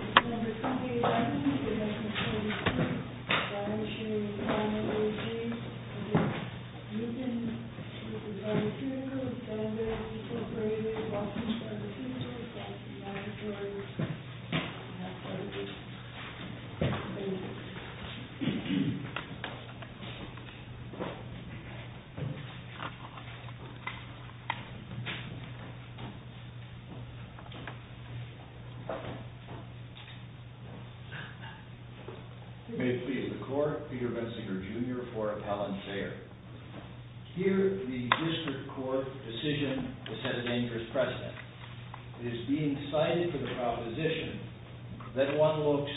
Number 28, Adam, you're next on page 2. Brian, Shane, Connor, AJ. And then, Newton. This is Ryan, too. This is Benjamin. This is Brady. This is Austin. This is Angel. This is Nancy. This is Jordan. And that's all the pages. Thank you. If you may, please. The court, Peter Bensinger, Jr., for appellant Sayre. Here, the district court decision has set a dangerous precedent. It is being cited for the proposition that one looks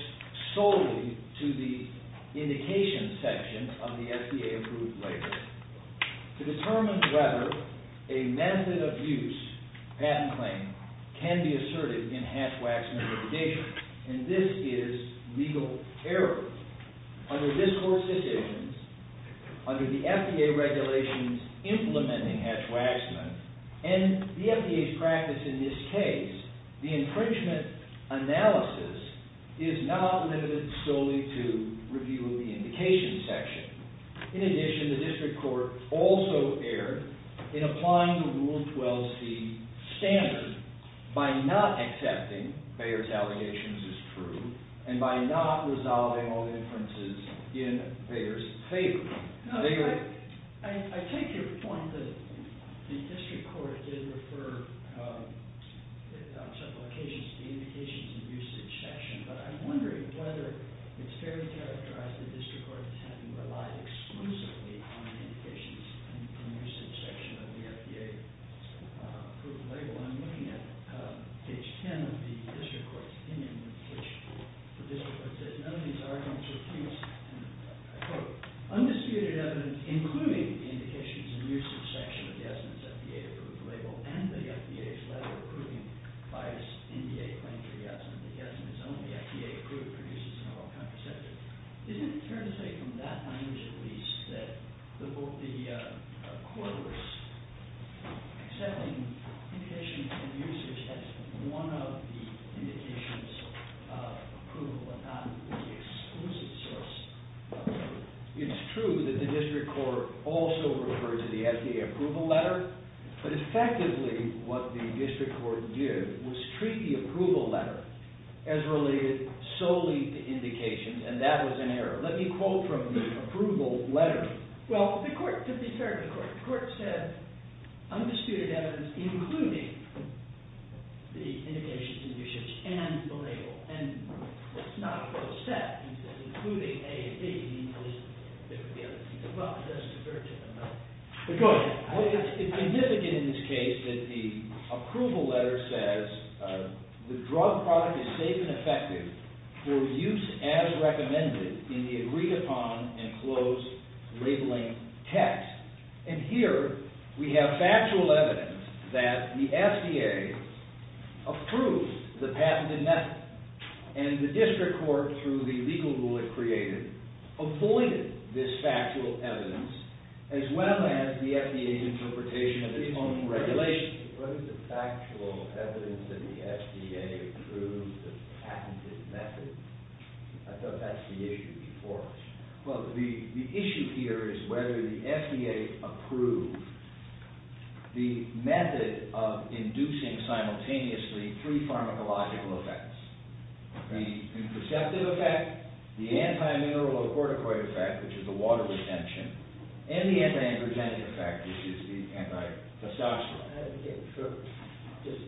solely to the indication section of the FDA-approved label to determine whether a method-of-use patent claim can be asserted in Hatch-Waxman litigation. And this is legal error. Under this court's decisions, under the FDA regulations implementing Hatch-Waxman, and the FDA's practice in this case, the infringement analysis is not limited solely to review of the indication section. In addition, the district court also erred in applying the Rule 12c standard by not accepting Bayer's allegations as true and by not resolving all the inferences in Bayer's favor. I take your point that the district court did refer on several occasions to the indications and usage section, but I'm wondering whether it's fairly characterized that the district court has relied exclusively on the indications and usage section of the FDA-approved label. I'm looking at page 10 of the district court's opinion, which the district court says none of these arguments are true. Undisputed evidence, including the indications and usage section of Yasmin's FDA-approved label and the FDA's letter approving Bayer's NDA claim for Yasmin, that Yasmin is only FDA-approved, produces an all-country subject. Isn't it fair to say, from that language at least, that the court was accepting indications and usage as one of the indications of approval and not the exclusive source of approval? It's true that the district court also referred to the FDA approval letter, but effectively what the district court did was treat the approval letter as related solely to indications, and that was an error. Let me quote from the approval letter. Well, the court could be fair to the court. The court said undisputed evidence, including the indications and usage and the label, and that's not what was said. Including A and B means there were the other two. Well, it does refer to them, though. But go ahead. Well, it's significant in this case that the approval letter says, the drug product is safe and effective for use as recommended in the agreed-upon and closed labeling text. And here, we have factual evidence that the FDA approved the patented method, and the district court, through the legal rule it created, avoided this factual evidence, as well as the FDA's interpretation of its own regulations. What is the factual evidence that the FDA approved the patented method? I thought that's the issue before us. Well, the issue here is whether the FDA approved the method of inducing simultaneously three pharmacological effects. The imperceptive effect, the anti-mineral or corticoid effect, which is the water retention, and the anti-androgenic effect, which is the anti-testosterone. Okay, sure. Just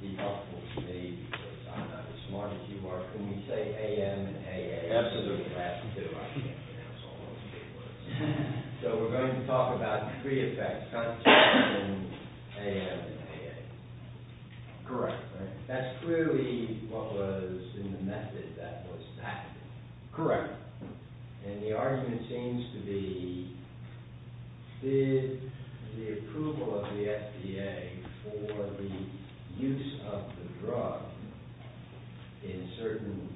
be helpful to me, because I'm not as smart as you are when we say A.M. and A.A.M. Absolutely. I have to do it. I can't pronounce all those three words. So, we're going to talk about three effects, contraception, A.M. and A.A.M. Correct. That's clearly what was in the method that was patented. Correct. And the argument seems to be, did the approval of the FDA for the use of the drug in certain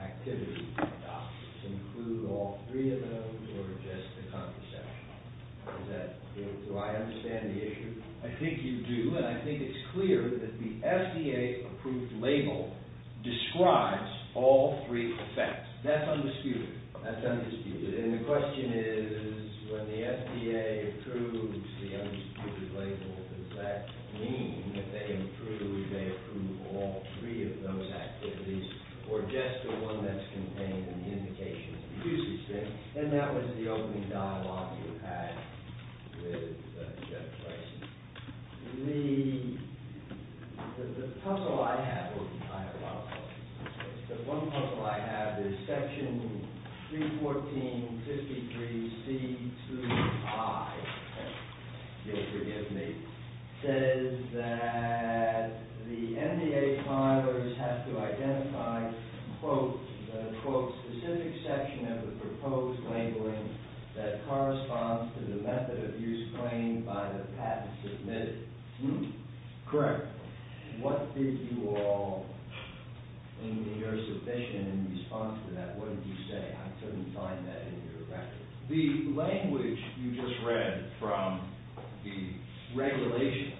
activities include all three of those or just the contraception? Do I understand the issue? I think you do, and I think it's clear that the FDA-approved label describes all three effects. That's undisputed. That's undisputed. And the question is, when the FDA approves the undisputed label, does that mean that they approve all three of those activities or just the one that's contained in the indication of the use of the drug? And that was the opening dialogue you had with Jeff Tyson. The puzzle I have, which I have a lot of questions about, the one puzzle I have is Section 314.53.C.2.I. Forgive me. It says that the NDA filers have to identify, quote, the quote, specific section of the proposed labeling that corresponds to the method of use claimed by the patent submitted. Correct. What did you all, in your submission in response to that, what did you say? I couldn't find that in your record. The language you just read from the regulation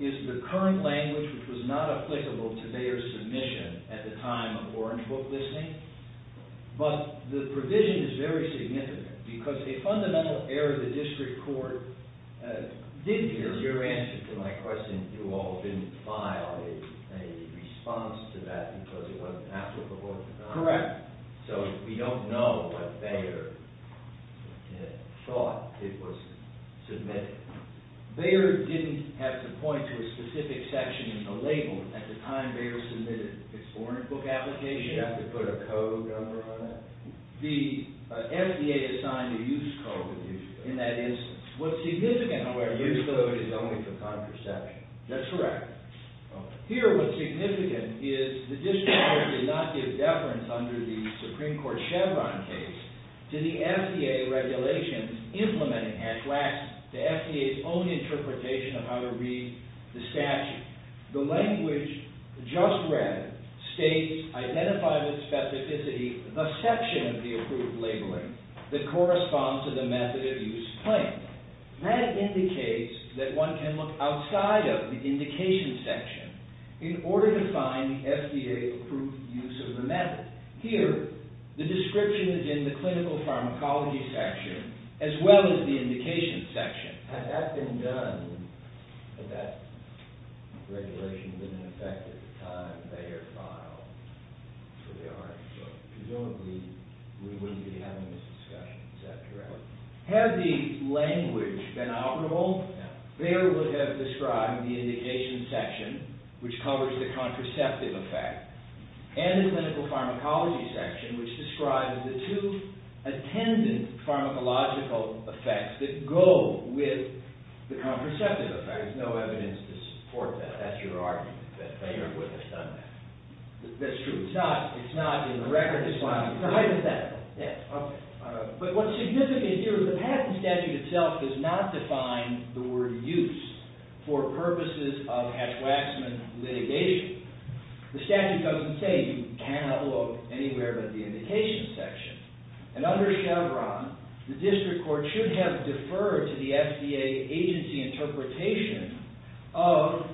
is the current language, which was not applicable to their submission at the time of Orange Book listing. But the provision is very significant, because a fundamental error of the district court didn't hear it. In your answer to my question, you all didn't file a response to that because it wasn't applicable? Correct. So we don't know what Bayer thought it was submitting. Bayer didn't have to point to a specific section in the label at the time Bayer submitted its Orange Book application? You didn't have to put a code number on it? The FDA assigned a use code. A use code. And that is what's significant. A use code is only for contraception. That's correct. Here what's significant is the district court did not give deference under the Supreme Court Chevron case to the FDA regulations implementing Hatch-Wax, to FDA's own interpretation of how to read the statute. The language just read states, identified with specificity, the section of the approved labeling that corresponds to the method of use claimed. That indicates that one can look outside of the indication section in order to find the FDA-approved use of the method. Here, the description is in the clinical pharmacology section as well as the indication section. Had that been done, had that regulation been in effect at the time Bayer filed for the Orange Book, presumably we wouldn't be having this discussion. Is that correct? Had the language been operable, Bayer would have described the indication section, which covers the contraceptive effect, and the clinical pharmacology section, which describes the two attendant pharmacological effects that go with the contraceptive effect. There's no evidence to support that. That's your argument, that Bayer wouldn't have done that? That's true. It's not in the record. It's hypothetical. But what's significant here is the patent statute itself does not define the word use for purposes of Hatch-Waxman litigation. The statute doesn't say you cannot look anywhere but the indication section. And under Chevron, the district court should have deferred to the FDA agency interpretation of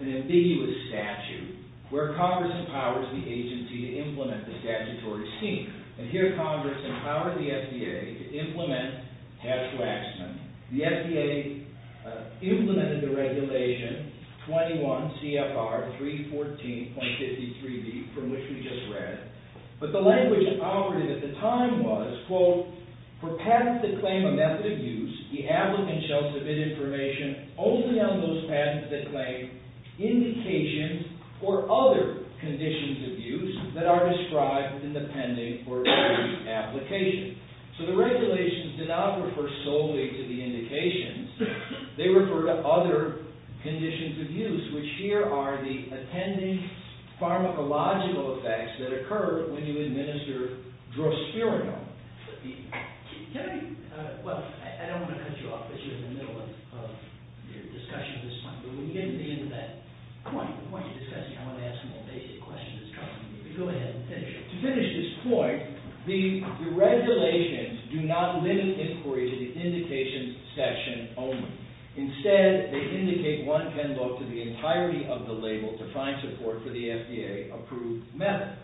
an ambiguous statute, where Congress empowers the agency to implement the statutory scheme. And here Congress empowers the FDA to implement Hatch-Waxman. The FDA implemented the regulation 21 CFR 314.53b, from which we just read. But the language that operated at the time was, quote, For patents that claim a method of use, the applicant shall submit information only on those patents that claim indications or other conditions of use that are described in the pending or due application. So the regulations do not refer solely to the indications. They refer to other conditions of use, which here are the attending pharmacological effects that occur when you administer drospirinol. Well, I don't want to cut you off, but you're in the middle of the discussion this time. But when you get to the end of that point, the point you're discussing, I want to ask some more basic questions. Go ahead and finish it. To finish this point, the regulations do not limit inquiry to the indications section only. Instead, they indicate one can look to the entirety of the label to find support for the FDA-approved method.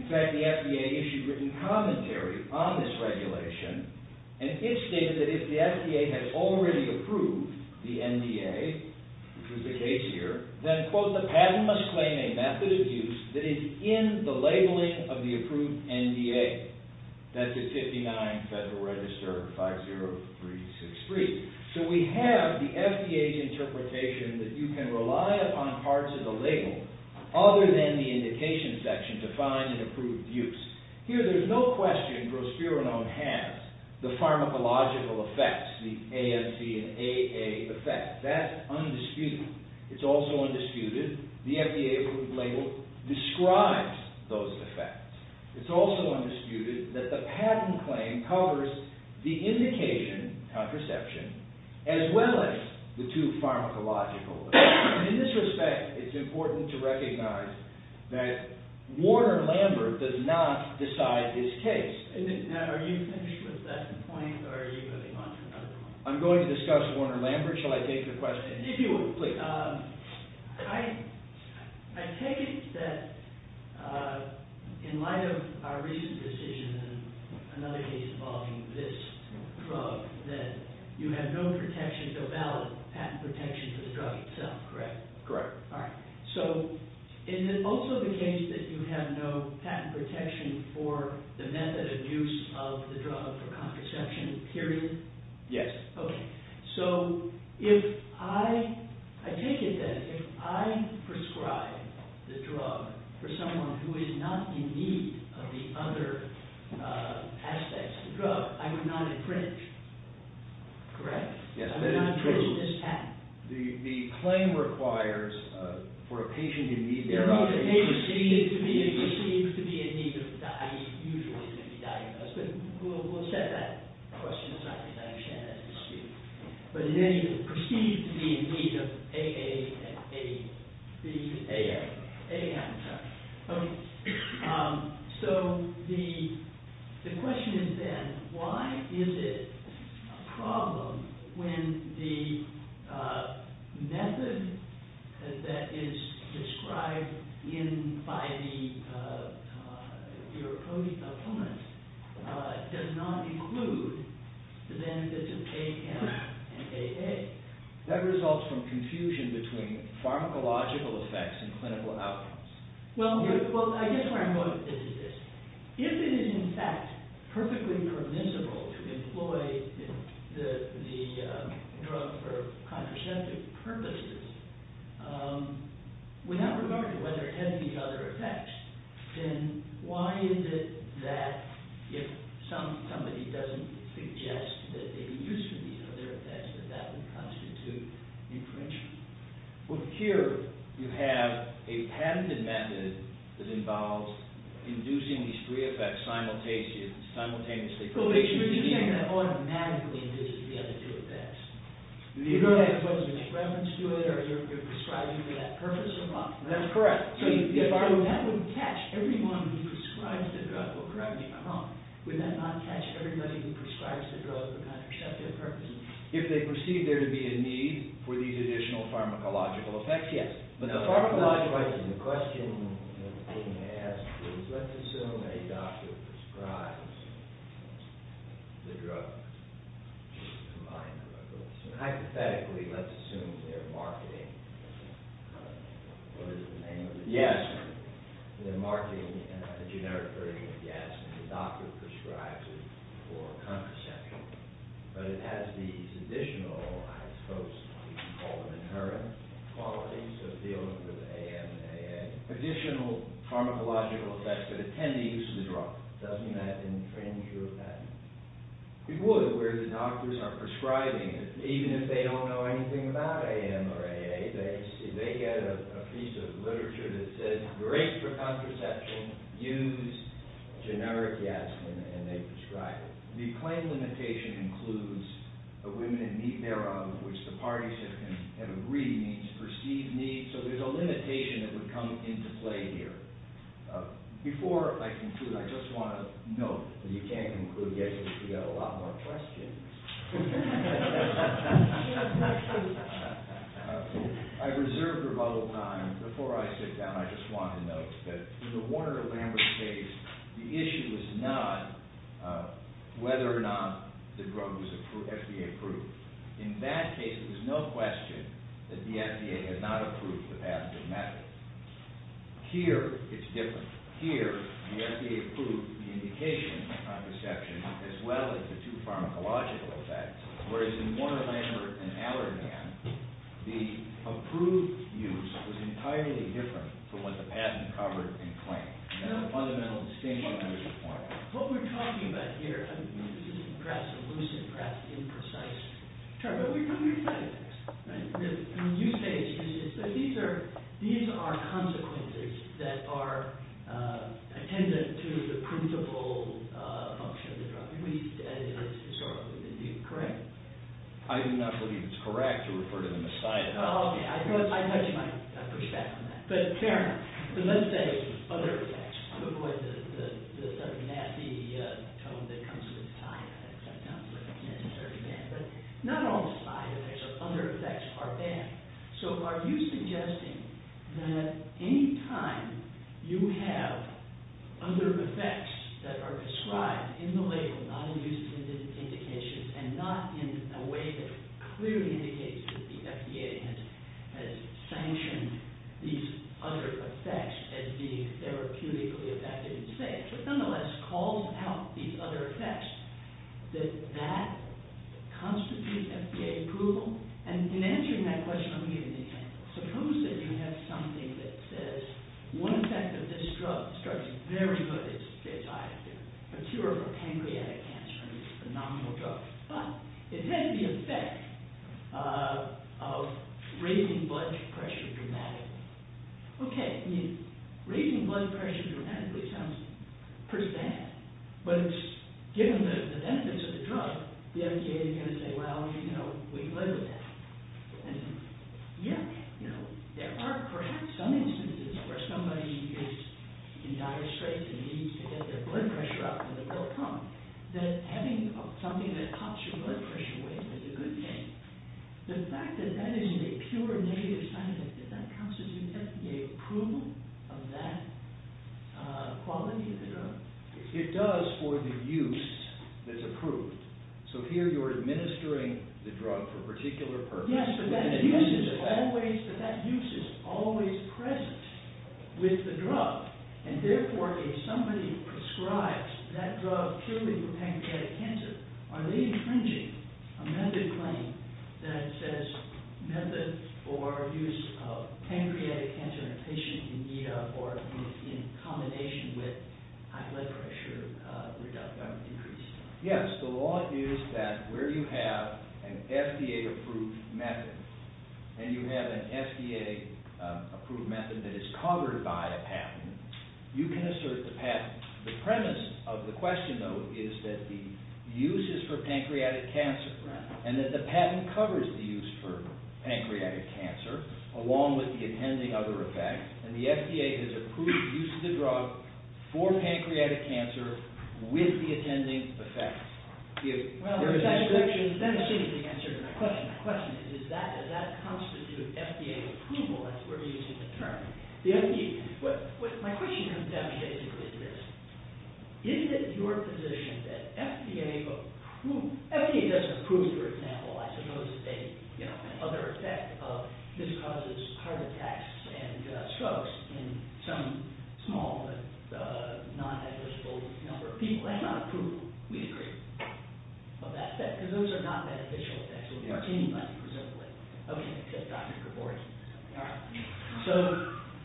In fact, the FDA issued written commentary on this regulation, and it stated that if the FDA has already approved the NDA, which is the case here, one must claim a method of use that is in the labeling of the approved NDA. That's the 59 Federal Register 50363. So we have the FDA's interpretation that you can rely upon parts of the label other than the indication section to find an approved use. Here, there's no question drospirinol has the pharmacological effects, the AMC and AA effects. That's undisputed. It's also undisputed the FDA-approved label describes those effects. It's also undisputed that the patent claim covers the indication contraception as well as the two pharmacological effects. In this respect, it's important to recognize that Warner-Lambert does not decide his case. Now, are you finished with that point, or are you moving on to another one? I'm going to discuss Warner-Lambert. Should I take your question? If you would, please. I take it that in light of our recent decision and another case involving this drug, that you have no protection, no valid patent protection for the drug itself, correct? Correct. All right. So is it also the case that you have no patent protection for the method of use of the drug for contraception, period? Yes. Okay. So I take it that if I prescribe the drug for someone who is not in need of the other aspects of the drug, I would not infringe, correct? Yes, that is true. I would not infringe this patent. The claim requires, for a patient in need, they're not in need. It's perceived to be in need of the diet. Usually, it's going to be diagnosed. But we'll set that question aside because I understand that's disputed. But it's perceived to be in need of AA and AB. AA. AA, I'm sorry. So the question is then, why is it a problem when the method that is described by your opponents does not include the benefits of AM and AA? That results from confusion between pharmacological effects and clinical outcomes. Well, I guess where I'm going with this is this. If it is, in fact, perfectly permissible to employ the drug for contraceptive purposes, without regard to whether it has these other effects, then why is it that if somebody doesn't suggest that they'd be used to these other effects, that that would constitute infringement? Well, here you have a patented method that involves inducing these three effects simultaneously. But you're saying that automatically induces the other two effects. You're going to have to make reference to it, or you're prescribing for that purpose, or not? That's correct. So if that would catch everyone who prescribes the drug, well, correct me if I'm wrong, would that not catch everybody who prescribes the drug for contraceptive purposes? If they perceive there to be a need for these additional pharmacological effects? Yes. Now, pharmacologically, the question that's being asked is, let's assume a doctor prescribes the drug, which is a combined drug. Hypothetically, let's assume they're marketing, what is the name of it? Yes. They're marketing a generic version of gas, and the doctor prescribes it for contraception. But it has these additional, I suppose you could call them inherent qualities of dealing with AM and AA. Additional pharmacological effects that attend the use of the drug. Doesn't that infringe your patent? It would, where the doctors are prescribing it. Even if they don't know anything about AM or AA, they get a piece of literature that says, great for contraception. Use generic gas, and they prescribe it. The claim limitation includes the women in need thereof, which the parties have agreed means perceived need. So there's a limitation that would come into play here. Before I conclude, I just want to note that you can't conclude yet because we've got a lot more questions. I reserved a bubble of time. Before I sit down, I just want to note that in the Warner-Lambert case, the issue was not whether or not the drug was FDA approved. In that case, it was no question that the FDA had not approved the pathogen method. Here, it's different. Here, the FDA approved the indication of contraception, as well as the two pharmacological effects. Whereas in Warner-Lambert and Allergan, the approved use was entirely different from what the patent covered and claimed. That's a fundamental distinction. What we're talking about here, this is perhaps a lucid, perhaps imprecise term, but we're talking about this. You say these are consequences that are attendant to the principle function of the drug, at least historically. Is that correct? I do not believe it's correct to refer to them as side effects. Okay, I thought you might push back on that. Fair enough. Let's say other effects. I'm going to avoid the sort of nasty tone that comes with side effects. I'm not necessarily bad. But not all side effects or other effects are bad. So, are you suggesting that any time you have other effects that are described in the label, not in used indications, and not in a way that clearly indicates that the FDA has sanctioned these other effects as being therapeutically effective, but nonetheless calls out these other effects, that that constitutes FDA approval? In answering that question, let me give you an example. Suppose that you have something that says, one effect of this drug, this drug is very good, it's a cure for pancreatic cancer, it's a phenomenal drug, but it has the effect of raising blood pressure dramatically. Okay, I mean, raising blood pressure dramatically sounds pretty sad, but given the benefits of the drug, the FDA is going to say, well, you know, we live with that. Yet, there are perhaps some instances where somebody is in dire straits and needs to get their blood pressure up, and they will come, that having something that pops your blood pressure away is a good thing. The fact that that is a pure negative side effect, does that constitute FDA approval of that quality of the drug? It does for the use that's approved. So here you're administering the drug for a particular purpose. Yes, but that use is always present with the drug, and therefore if somebody prescribes that drug purely for pancreatic cancer, are they infringing a method claim that says method for use of pancreatic cancer in a patient in need of, or in combination with high blood pressure reduction or decrease? Yes, the law is that where you have an FDA-approved method, and you have an FDA-approved method that is covered by a patent, you can assert the patent. The premise of the question, though, is that the use is for pancreatic cancer, and that the patent covers the use for pancreatic cancer along with the attending other effects, and the FDA has approved the use of the drug for pancreatic cancer with the attending effects. Well, that seems to answer my question. My question is, does that constitute FDA approval, as we're using the term? My question comes down to basically this. Is it your position that FDA doesn't approve, for example, I suppose, a, you know, other effect of this causes heart attacks and strokes in some small but non-negligible number of people? That's not a proof we agree of that effect, because those are not beneficial effects. Okay, Dr. Gabor is coming up. So,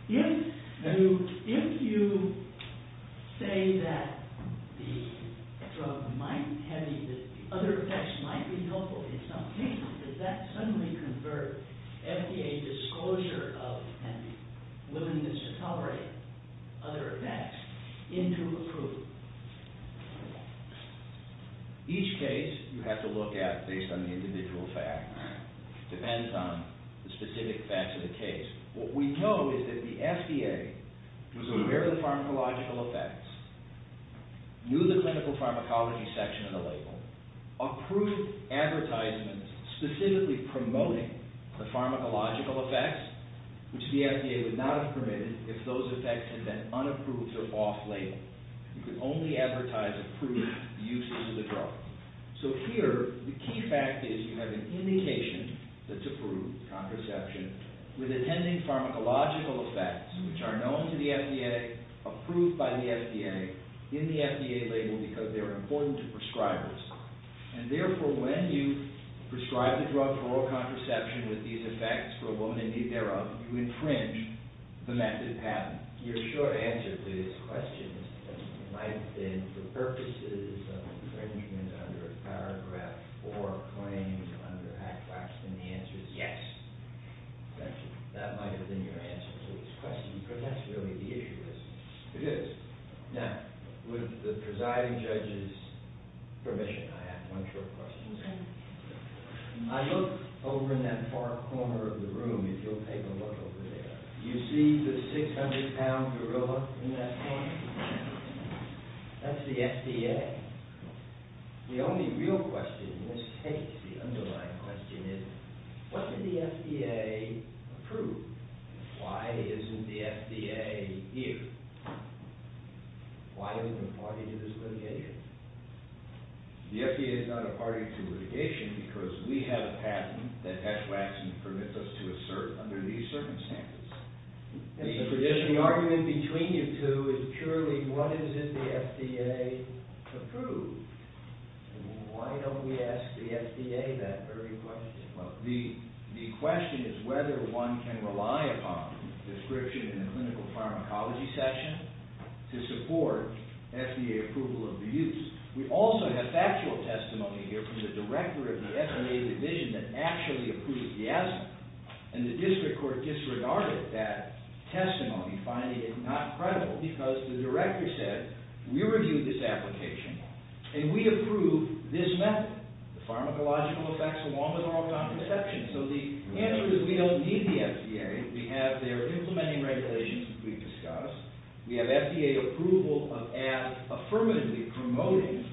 if you say that the drug might have other effects, might be helpful in some cases, does that suddenly convert FDA disclosure of and willingness to tolerate other effects into approval? Each case you have to look at based on the individual fact. It depends on the specific facts of the case. What we know is that the FDA was aware of the pharmacological effects, knew the clinical pharmacology section of the label, approved advertisements specifically promoting the pharmacological effects, which the FDA would not have permitted if those effects had been unapproved or off-label. You could only advertise approved use of the drug. So here, the key fact is you have an indication that's approved, contraception, with attending pharmacological effects, which are known to the FDA, approved by the FDA, in the FDA label because they're important to prescribers. And therefore, when you prescribe the drug for oral contraception with these effects, for a woman in need thereof, you infringe the method patent. Your short answer to this question might have been for purposes of infringement under a paragraph or claims under Act X, and the answer is yes. That might have been your answer to this question, but that's really the issue, isn't it? It is. Now, with the presiding judge's permission, I have one short question. Okay. I looked over in that far corner of the room, if you'll take a look over there, do you see the 600-pound gorilla in that corner? That's the FDA. The only real question in this case, the underlying question, is what did the FDA approve? Why isn't the FDA here? Why are we a party to this litigation? The FDA is not a party to litigation because we have a patent that Hesh-Waxin permits us to assert under these circumstances. The argument between you two is purely what is it the FDA approved, and why don't we ask the FDA that very question? The question is whether one can rely upon the description in the clinical pharmacology section to support FDA approval of the use. We also have factual testimony here from the director of the FDA division that actually approved the asthma, and the district court disregarded that testimony, finding it not credible, because the director said, we reviewed this application, and we approve this method, the pharmacological effects along with our own contraception. So the answer is we don't need the FDA. We have their implementing regulations that we discussed. We have FDA approval of asthma affirmatively promoting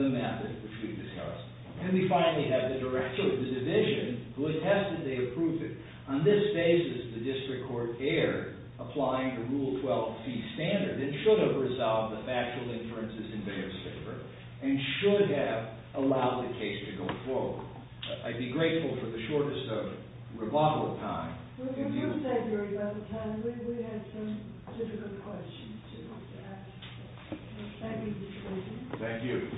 the method which we discussed. And we finally have the director of the division who attested they approved it. On this basis, the district court erred, applying the Rule 12 fee standard. It should have resolved the factual inferences in their paper, and should have allowed the case to go forward. I'd be grateful for the shortest rebuttal time. We can do February by the time we have some difficult questions to ask. Thank you, Mr. Levy. Thank you. Mr.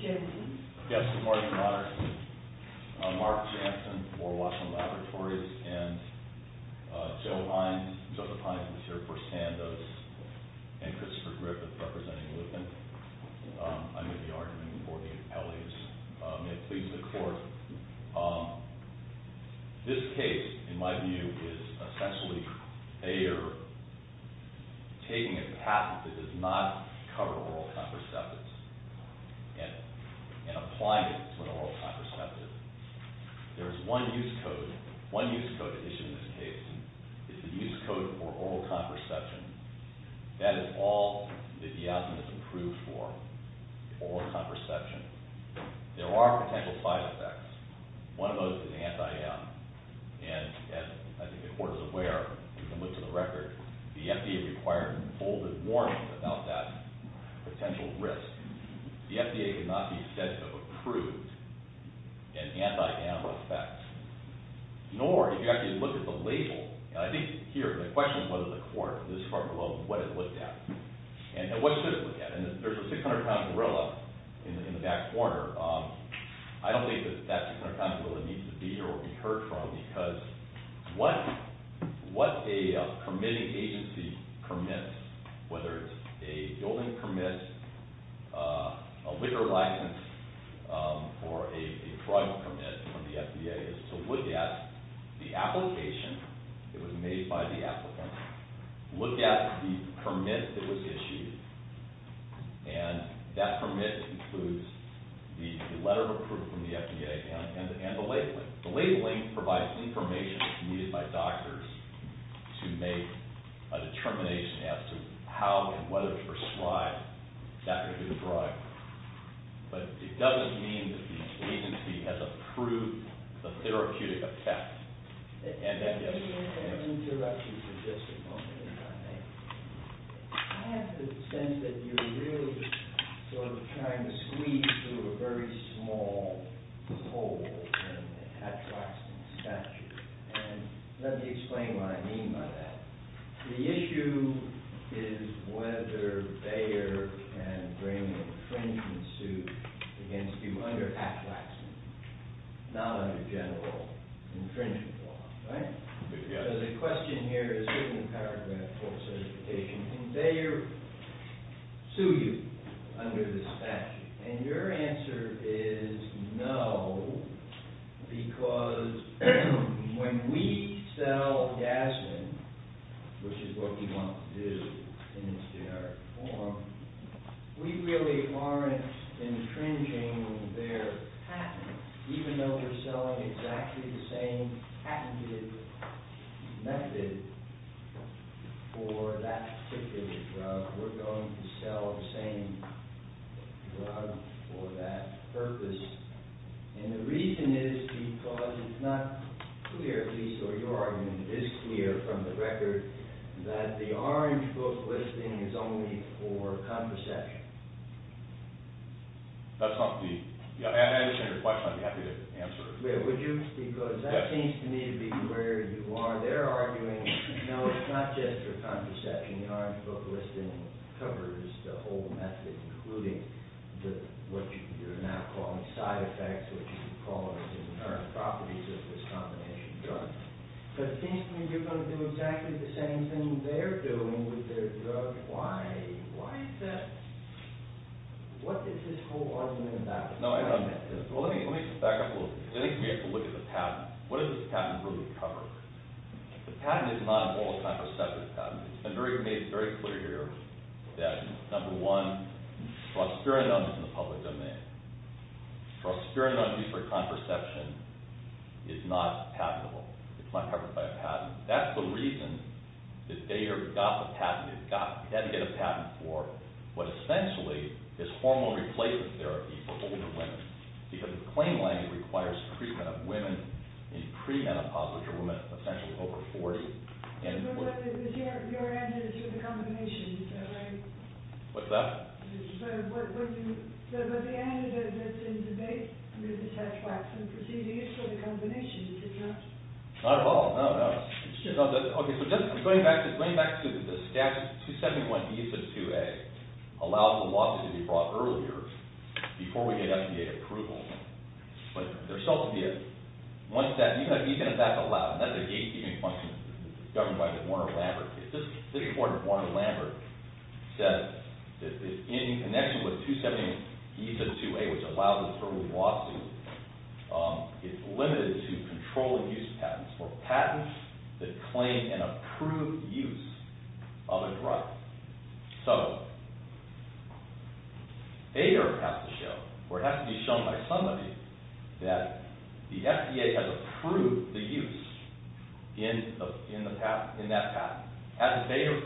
Jenkins. Yes, good morning, Your Honor. Mark Jansen for Washington Laboratories, and Joseph Hines, who's here for Sandoz, and Christopher Griffith representing Lupin. I made the argument before the appellees. May it please the court. This case, in my view, is essentially they are taking a patent that does not cover oral contraceptives. And applying it to an oral contraceptive. There is one use code, one use code issued in this case, is the use code for oral contraception. That is all that the asthma is approved for, oral contraception. There are potential side effects. One of those is anti-M. And I think the court is aware, we can look to the record, the FDA required bolded warning about that potential risk. The FDA does not need to approve an anti-M effect. Nor do you have to look at the label. And I think here, the question is what does the court, this court below, what it looked at? And what should it look at? And there's a 600-pound gorilla in the back corner. I don't think that that 600-pound gorilla needs to be here or be heard from because what a permitting agency permits, whether it's a building permit, a liquor license, or a drug permit from the FDA, is to look at the application that was made by the applicant, look at the permit that was issued, and that permit includes the letter of approval from the FDA and the labeling. The labeling provides information that's needed by doctors to make a determination as to how and whether to prescribe that particular drug. But it doesn't mean that the agency has approved the therapeutic effect. I'm going to interrupt you for just a moment if I may. I have the sense that you're really sort of trying to squeeze through a very small hole in the Atraxin statute. And let me explain what I mean by that. The issue is whether Bayer can bring an infringement suit against you under Atraxin, not under general infringement law, right? So the question here is in paragraph 4 of the certification. Can Bayer sue you under this statute? And your answer is no because when we sell gasoline, which is what we want to do in its generic form, we really aren't infringing their patent. Even though we're selling exactly the same patented method for that particular drug, we're going to sell the same drug for that purpose. And the reason is because it's not clear, at least your argument is clear from the record, that the Orange Book listing is only for contraception. That's not the... I understand your question. I'd be happy to answer it. Would you? Because that seems to me to be where you are. They're arguing, no, it's not just for contraception. The Orange Book listing covers the whole method, including what you're now calling side effects, which you call the inherent properties of this combination of drugs. But it seems to me you're going to do exactly the same thing they're doing with their drugs. Why is that? What is this whole argument about? Well, let me back up a little bit. I think we have to look at the patent. What does this patent really cover? The patent is not an all-contraceptive patent. It's been made very clear here that, number one, prosperity on use in the public domain, prosperity on use for contraception is not patentable. It's not covered by a patent. That's the reason that they got the patent. They had to get a patent for what essentially is hormone replacement therapy for older women. Because the claim language requires treatment of women in pre-menopause, which are women essentially over 40. But your answer is for the combination, is that right? What's that? But the answer that's in debate, and this has facts and procedures for the combination, is it not? Not at all, no, no. I'm going back to the statute. 271B of 2A allows a lot to be brought earlier, before we get FDA approval. But there still has to be one statute. And even if that's allowed, and that's a gatekeeping function governed by the Warner-Lambert case, this court in Warner-Lambert says that in connection with 271B of 2A, which allows a total lawsuit, it's limited to control-of-use patents, or patents that claim an approved use of a drug. So, they have to show, or it has to be shown by somebody, that the FDA has approved the use in that patent.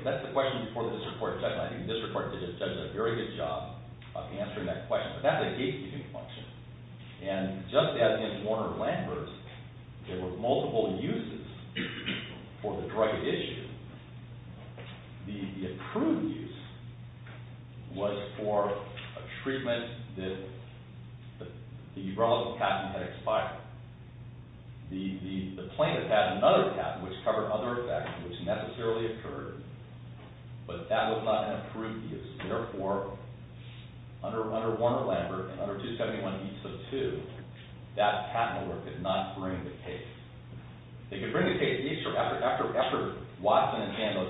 That's the question before this report, and I think this report does a very good job of answering that question. But that's a gatekeeping function. And just as in Warner-Lambert, there were multiple uses for the drug issue, the approved use was for a treatment that the urological patent had expired. The plaintiff had another patent which covered other effects, which necessarily occurred, but that was not an approved use. Therefore, under Warner-Lambert, and under 271B of 2, that patent lawyer could not bring the case. They could bring the case, after Watson and Sandler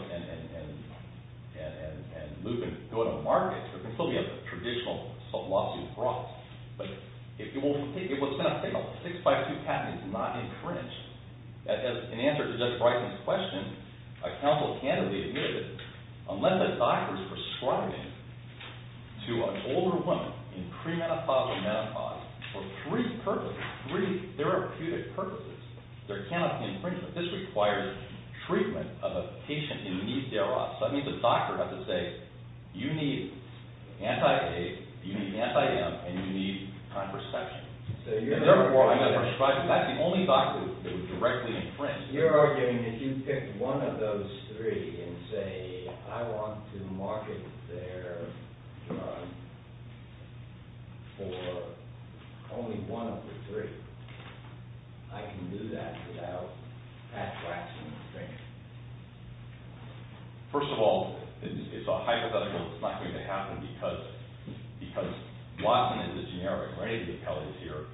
and Lupin go to market, there can still be a traditional lawsuit brought, but if it was sent a 6-by-2 patent, it's not infringed. As an answer to Judge Bryson's question, a counsel candidly admitted, unless a doctor is prescribing to an older woman, in pre-menopause or menopause, for three purposes, three therapeutic purposes, there cannot be infringement. This requires treatment of a patient in need thereof. So that means a doctor has to say, you need anti-age, you need anti-amp, and you need contraception. Therefore, I'm going to prescribe to you. That's the only doctor that would directly infringe. You're arguing that if you pick one of those three and say, I want to market their drug for only one of the three, I can do that without Pat Watson infringing. First of all, it's a hypothetical. It's not going to happen because Watson is a generic, or any of the appellees here,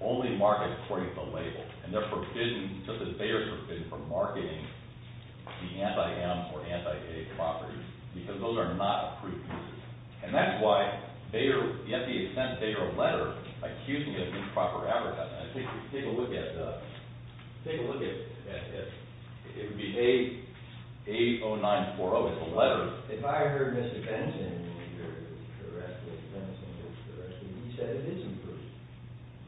only markets according to the label. And they're forbidden, just as Bayer is forbidden, from marketing the anti-amp or anti-age properties because those are not approved uses. And that's why Bayer, to the extent that Bayer would let her, accusing her of improper advertising. Take a look at, it would be 80940, it's a letter. If I heard Mr. Benson, the arrest of Mr. Benson, he said it is approved.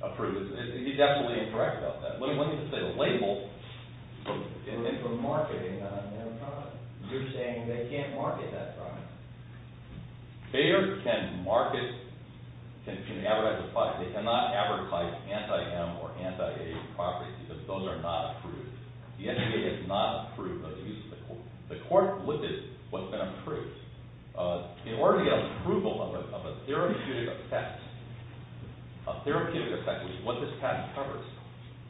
Approved. He's absolutely incorrect about that. When you say the label, It's for marketing the anti-amp product. You're saying they can't market that product. Bayer can market, can advertise, they cannot advertise anti-amp or anti-age properties because those are not approved. The NCAA has not approved those uses. The court looked at what's been approved. In order to get approval of a therapeutic effect, a therapeutic effect, which is what this patent covers,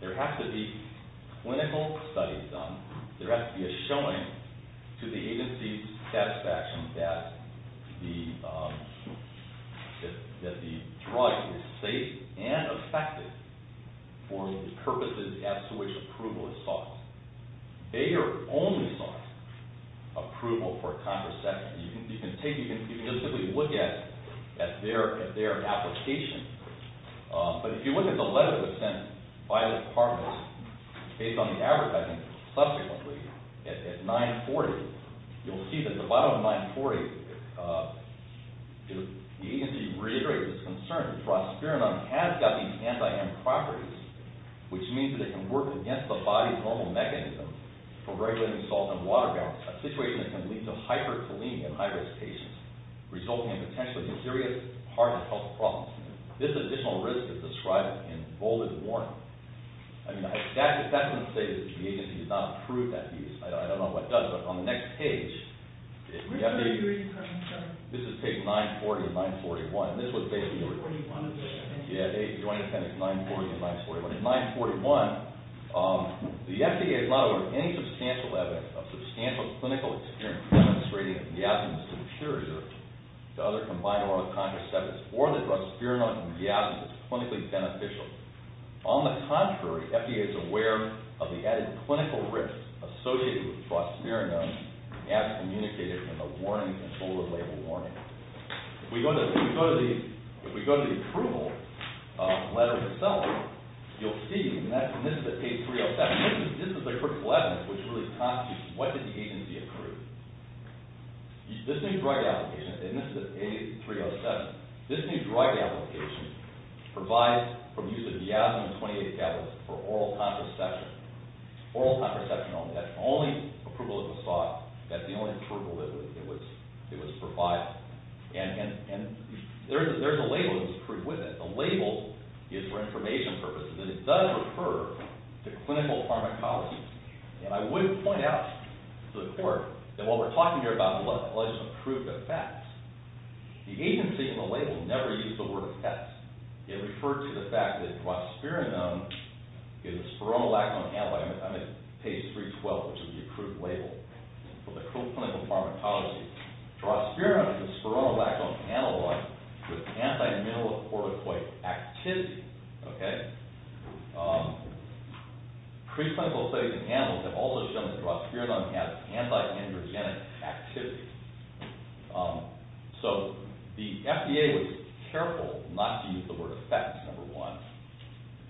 there has to be clinical studies done. There has to be a showing to the agency's satisfaction that the drug is safe and effective for the purposes as to which approval is sought. Bayer only sought approval for contraception. You can take, you can just simply look at their application, but if you look at the letter that was sent by the department based on the advertising subsequently at 940, you'll see that the bottom of 940, the agency reiterated its concern that prosperinone has got these anti-amp properties, which means that it can work against the body's normal mechanism for regulating salt and water balance, a situation that can lead to hyperkalemia in high-risk patients, resulting in potentially serious heart and health problems. This additional risk is described in bolded warning. I mean, that doesn't say that the agency has not approved that use. I don't know what does, but on the next page, this is page 940 and 941. This is what they do. Yeah, they join appendix 940 and 941. In 941, the FDA is not aware of any substantial evidence of substantial clinical experience demonstrating the absence of a cure to other combined oral contraceptives or the drug prosperinone from the absence of clinically beneficial. On the contrary, FDA is aware of the added clinical risk associated with prosperinone as communicated in the warning and bolded label warning. If we go to the approval letter itself, you'll see, and this is at page 307, this is the critical evidence which really constitutes what did the agency approve. This new drug application, and this is at page 307, this new drug application provides for use of diazolamin 28 tablets for oral contraception, oral contraception only. That's the only approval that was sought. That's the only approval that was provided. And there's a label that was approved with it. The label is for information purposes, and it does refer to clinical pharmacology. And I would point out to the court that while we're talking here about alleged approved effects, the agency and the label never used the word effects. It referred to the fact that prosperinone is a spironolactone and I'm at page 312, which is the approved label. So the clinical pharmacology draws prosperinone as a spironolactone analogue with anti-myelocorticoid activity. Okay? Preclinical studies have shown that prosperinone has anti-androgenic activity. So the FDA was careful not to use the word effects, number one.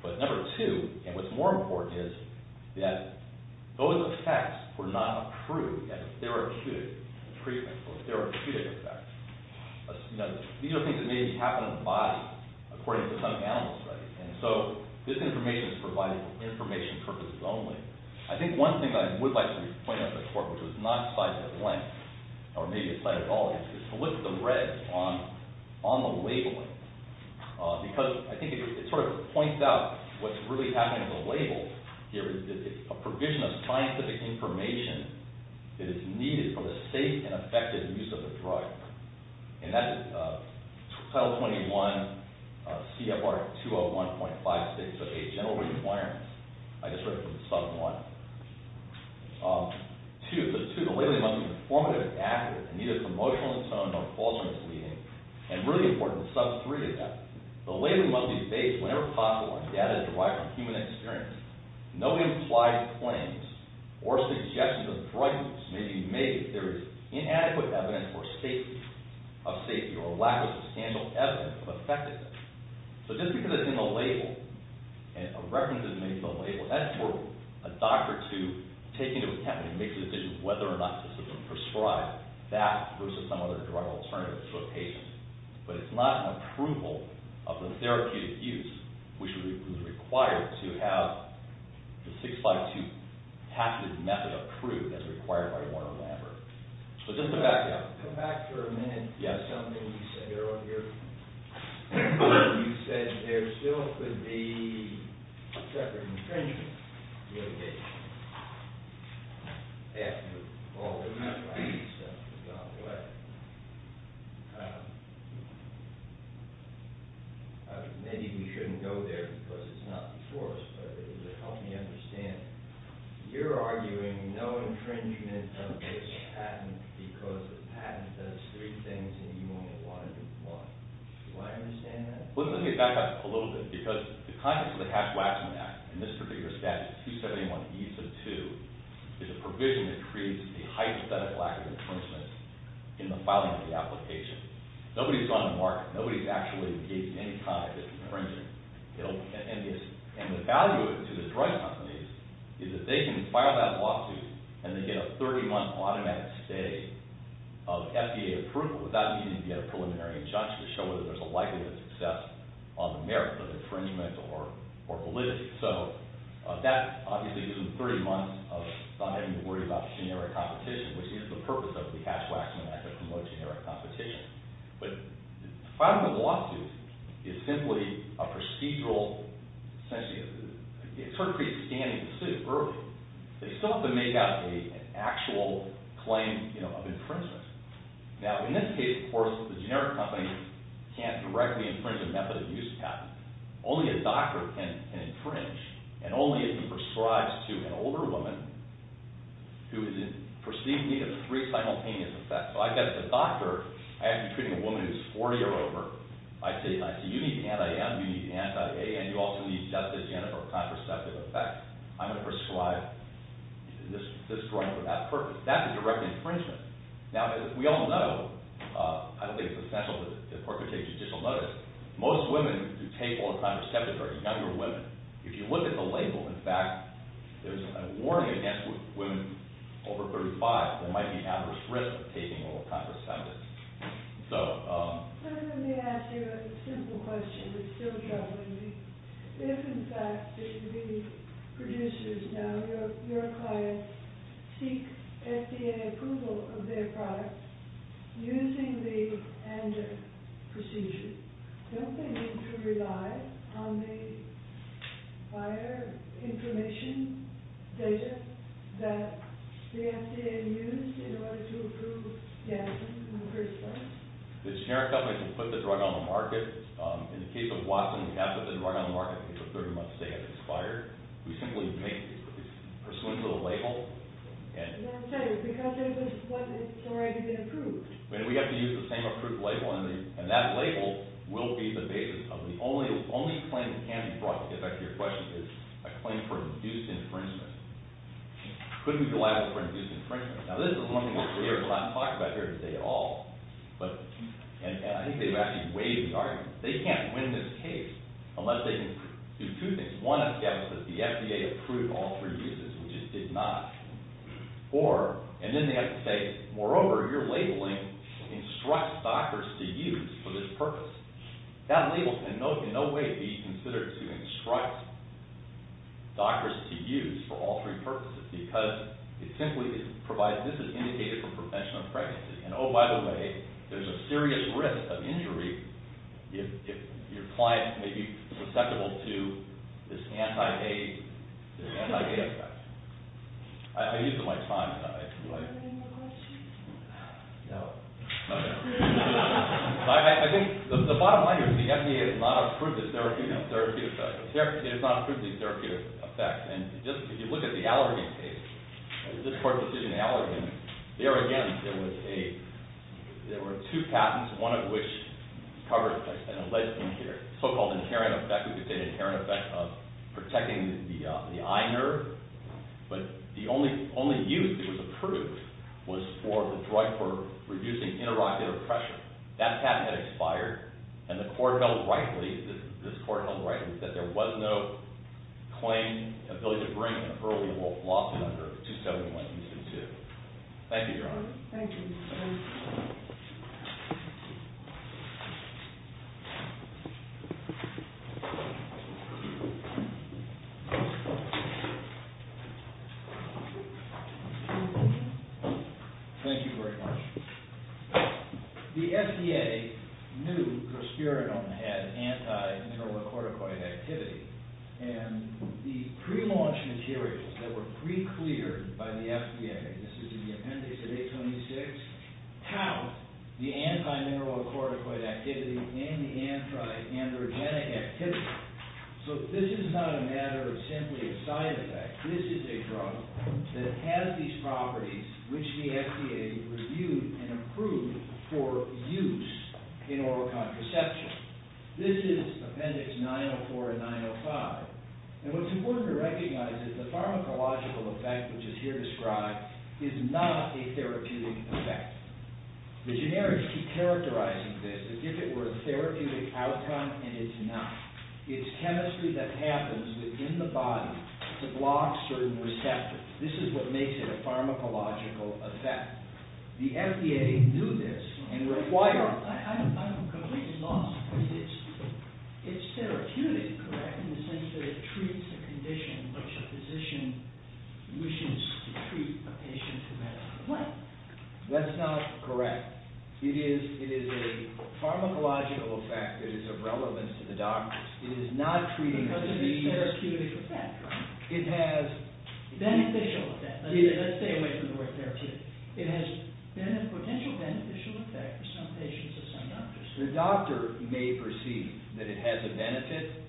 But number two, and what's more important is that those effects were not approved as a therapeutic treatment or therapeutic effect. These are things that may happen in the body, according to some animal studies. And so this information is provided for information purposes only. I think one thing that I would like to point out to the court, which was not cited at length, or maybe it's cited at all, is to lift the red on the labeling. Because I think it sort of points out what's really happening in the labels here. It's a provision of scientific information that is needed for the safe and effective use of the drug. And that's Title 21 CFR 201.5608, General Requirements. I just read from Sub 1. Two, the labeling must be informative, active, and neither promotional in tone nor false or misleading. And really important, Sub 3 to that. The labeling must be based, whenever possible, on data derived from human experience. No implied claims or suggestions of fraudulence may be made if there is inadequate evidence or safety of safety or lack of substantial evidence of effectiveness. So just because it's in the label, and a reference is made to the label, that's for a doctor to take into account when he makes a decision whether or not to prescribe that versus some other drug alternative to a patient. But it's not an approval of the therapeutic use, which is required to have the 652 method approved as required by Warner-Lambert. But just to back up, come back for a minute to something you said earlier. You said there still could be separate infringement litigation after all of this drug use has gone away. Maybe we shouldn't go there because it's not before us, but it would help me understand you're arguing no infringement of this patent because the patent does three things and you only want to do one. Do I understand that? Well, let me back up a little bit because the contents of the Hatch-Waxman Act, in this particular statute, 271e sub 2, is a provision that creates a hypothetical lack of infringement in the filing of the application. Nobody's gone to market. Nobody's actually engaged in any kind of infringement. And the value to the drug companies is that they can file that lawsuit and they get a 30-month automatic stay of FDA approval without needing to get a preliminary injunction to show whether there's a likelihood of success on the merits of infringement or validity. So that obviously isn't 30 months of not having to worry about generic competition, which is the purpose of the Hatch-Waxman Act to promote generic competition. But filing a lawsuit is simply a procedural, essentially, it's sort of like scanning the suit early. They still have to make out an actual claim of infringement. Now, in this case, of course, the generic company can't directly infringe a method of use patent. Only a doctor can infringe and only if he prescribes to an older woman who is in perceived need of three simultaneous effects. So I've got a doctor, I have to be treating a woman who's 40 or over. I say, you need anti-M, you need anti-A, and you also need justice, you have to have contraceptive effects. I'm going to prescribe this drug for that purpose. That's a direct infringement. Now, as we all know, I don't think it's essential that the court should take judicial notice, most women who take all contraceptives are younger women. If you look at the label, in fact, there's a warning against women over 35 that there might be adverse risk of taking all contraceptives. So... Let me ask you a simple question that's still troubling me. If, in fact, the producers now, your clients, seek FDA approval of their products using the ANDA procedure, don't they need to rely on the prior information data that the FDA used in order to approve the action in the first place? The generic company can put the drug on the market. In the case of Watson, we have to put the drug on the market if a 30-month stay has expired. We simply make pursuant to the label, and... No, I'm sorry, because it's already been approved. We have to use the same approved label, and that label will be the basis. The only claim that can be brought to the effect of your question is a claim for induced infringement. Couldn't be liable for induced infringement. Now, this is one of the things we haven't talked about here today at all, but... And I think they've actually waived the argument. They can't win this case unless they can do two things. One, if the FDA approved all three uses, which it did not, or... And then they have to say, moreover, your labeling instructs doctors to use for this purpose. That label can in no way be considered to instruct doctors to use for all three purposes, because it simply provides... This is indicated for prevention of pregnancy. And, oh, by the way, there's a serious risk of injury if your client may be susceptible to this anti-age, this anti-age effect. I used it my time today. Do I... Do you have any more questions? No. No, no. But I think the bottom line here is the FDA has not approved this therapy therapy effect. The FDA has not approved this therapy effect. And just, if you look at the allergy case, this court's decision in allergy, there, again, there was a... There were two patents, one of which covers this, and it lets in here the so-called inherent effect, we could say the inherent effect of protecting the eye nerve. But the only use that was approved was for the drug for reducing interocular pressure. That patent had expired, and the court held rightly that this court held rightly that there was no claim, ability to bring an early loss under 271-EC2. Thank you, Your Honor. Thank you. Thank you very much. The FDA knew Prosperinone had anti-mineralocorticoid activity. And the pre-launch materials that were pre-cleared by the FDA, this is in the appendix of 826, have the anti-mineralocorticoid activity and the anti-androgenic activity. So this is not a matter of simply a side effect. This is a drug that has these properties which the FDA reviewed and approved for use in oral contraception. This is appendix 904 and 905. And what's important to recognize is the pharmacological effect, which is here described, is not a therapeutic effect. The generics keep characterizing this as if it were a therapeutic outcome, and it's not. It's chemistry that happens within the body to block certain receptors. This is what makes it a pharmacological effect. The FDA knew this and required it. I'm completely lost. It's therapeutic, correct, in the sense that it treats a condition which a physician wishes to treat a patient who has it. What? That's not correct. It is a pharmacological effect that is of relevance to the doctors. It is not treating a disease. But it is therapeutic effect, right? It has... Beneficial effect. Let's stay away from the word therapeutic. It has potential beneficial effect for some patients and some doctors. The doctor may perceive that it has a benefit.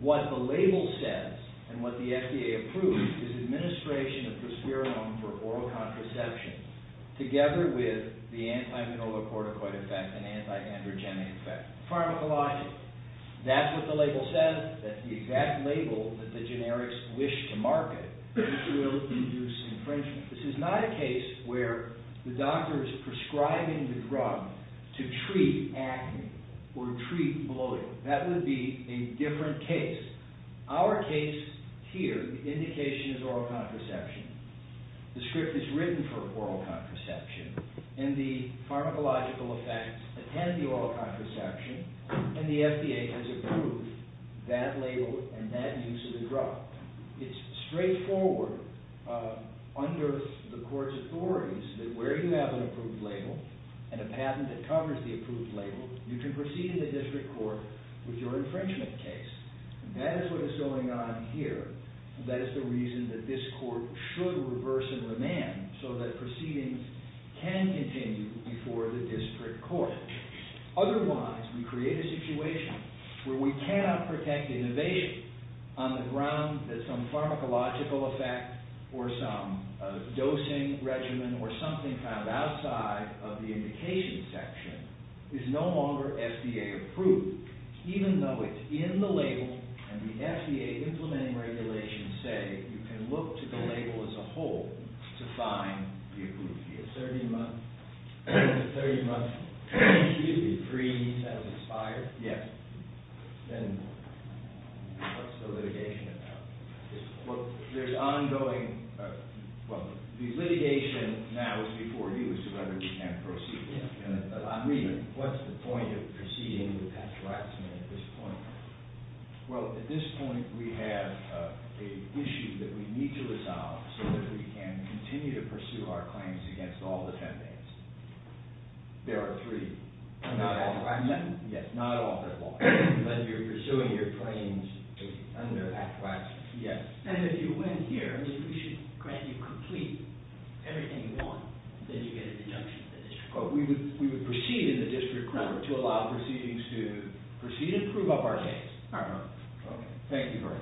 What the label says, and what the FDA approved, is administration of prosperolone for oral contraception together with the anti-minolocorticoid effect and anti-androgenic effect. Pharmacological. That's what the label says, that the exact label that the generics wish to market will induce infringement. This is not a case where the doctor is prescribing the drug to treat acne or treat bloating. That would be a different case. Our case here, the indication is oral contraception. The script is written for oral contraception. And the pharmacological effects attend the oral contraception. And the FDA has approved that label and that use of the drug. It's straightforward under the court's authorities that where you have an approved label and a patent that covers the approved label, you can proceed in the district court with your infringement case. That is what is going on here. That is the reason that this court should reverse and remand so that proceedings can continue before the district court. Otherwise, we create a situation where we cannot protect innovation on the ground that some pharmacological effect or some dosing regimen or something kind of outside of the indication section is no longer FDA approved. Even though it's in the label and the FDA implementing regulations say you can look to the label as a whole to find the approved. The 30-month... The 30-month... Excuse me. The freeze has expired? Yes. Then... What's the litigation about? Well, there's ongoing... Well, the litigation now is before you as to whether we can proceed. I'm reading. What's the point of proceeding with that harassment at this point? Well, at this point, we have an issue that we need to resolve so that we can continue to pursue our claims against all defendants. There are three. Not all. Yes, not all. But you're pursuing your claims under that class? Yes. And if you win here, we should grant you completely everything you want. Then you get a deduction from the district court. We would proceed in the district court to allow proceedings to proceed and prove up our case. Thank you very much. Thank you.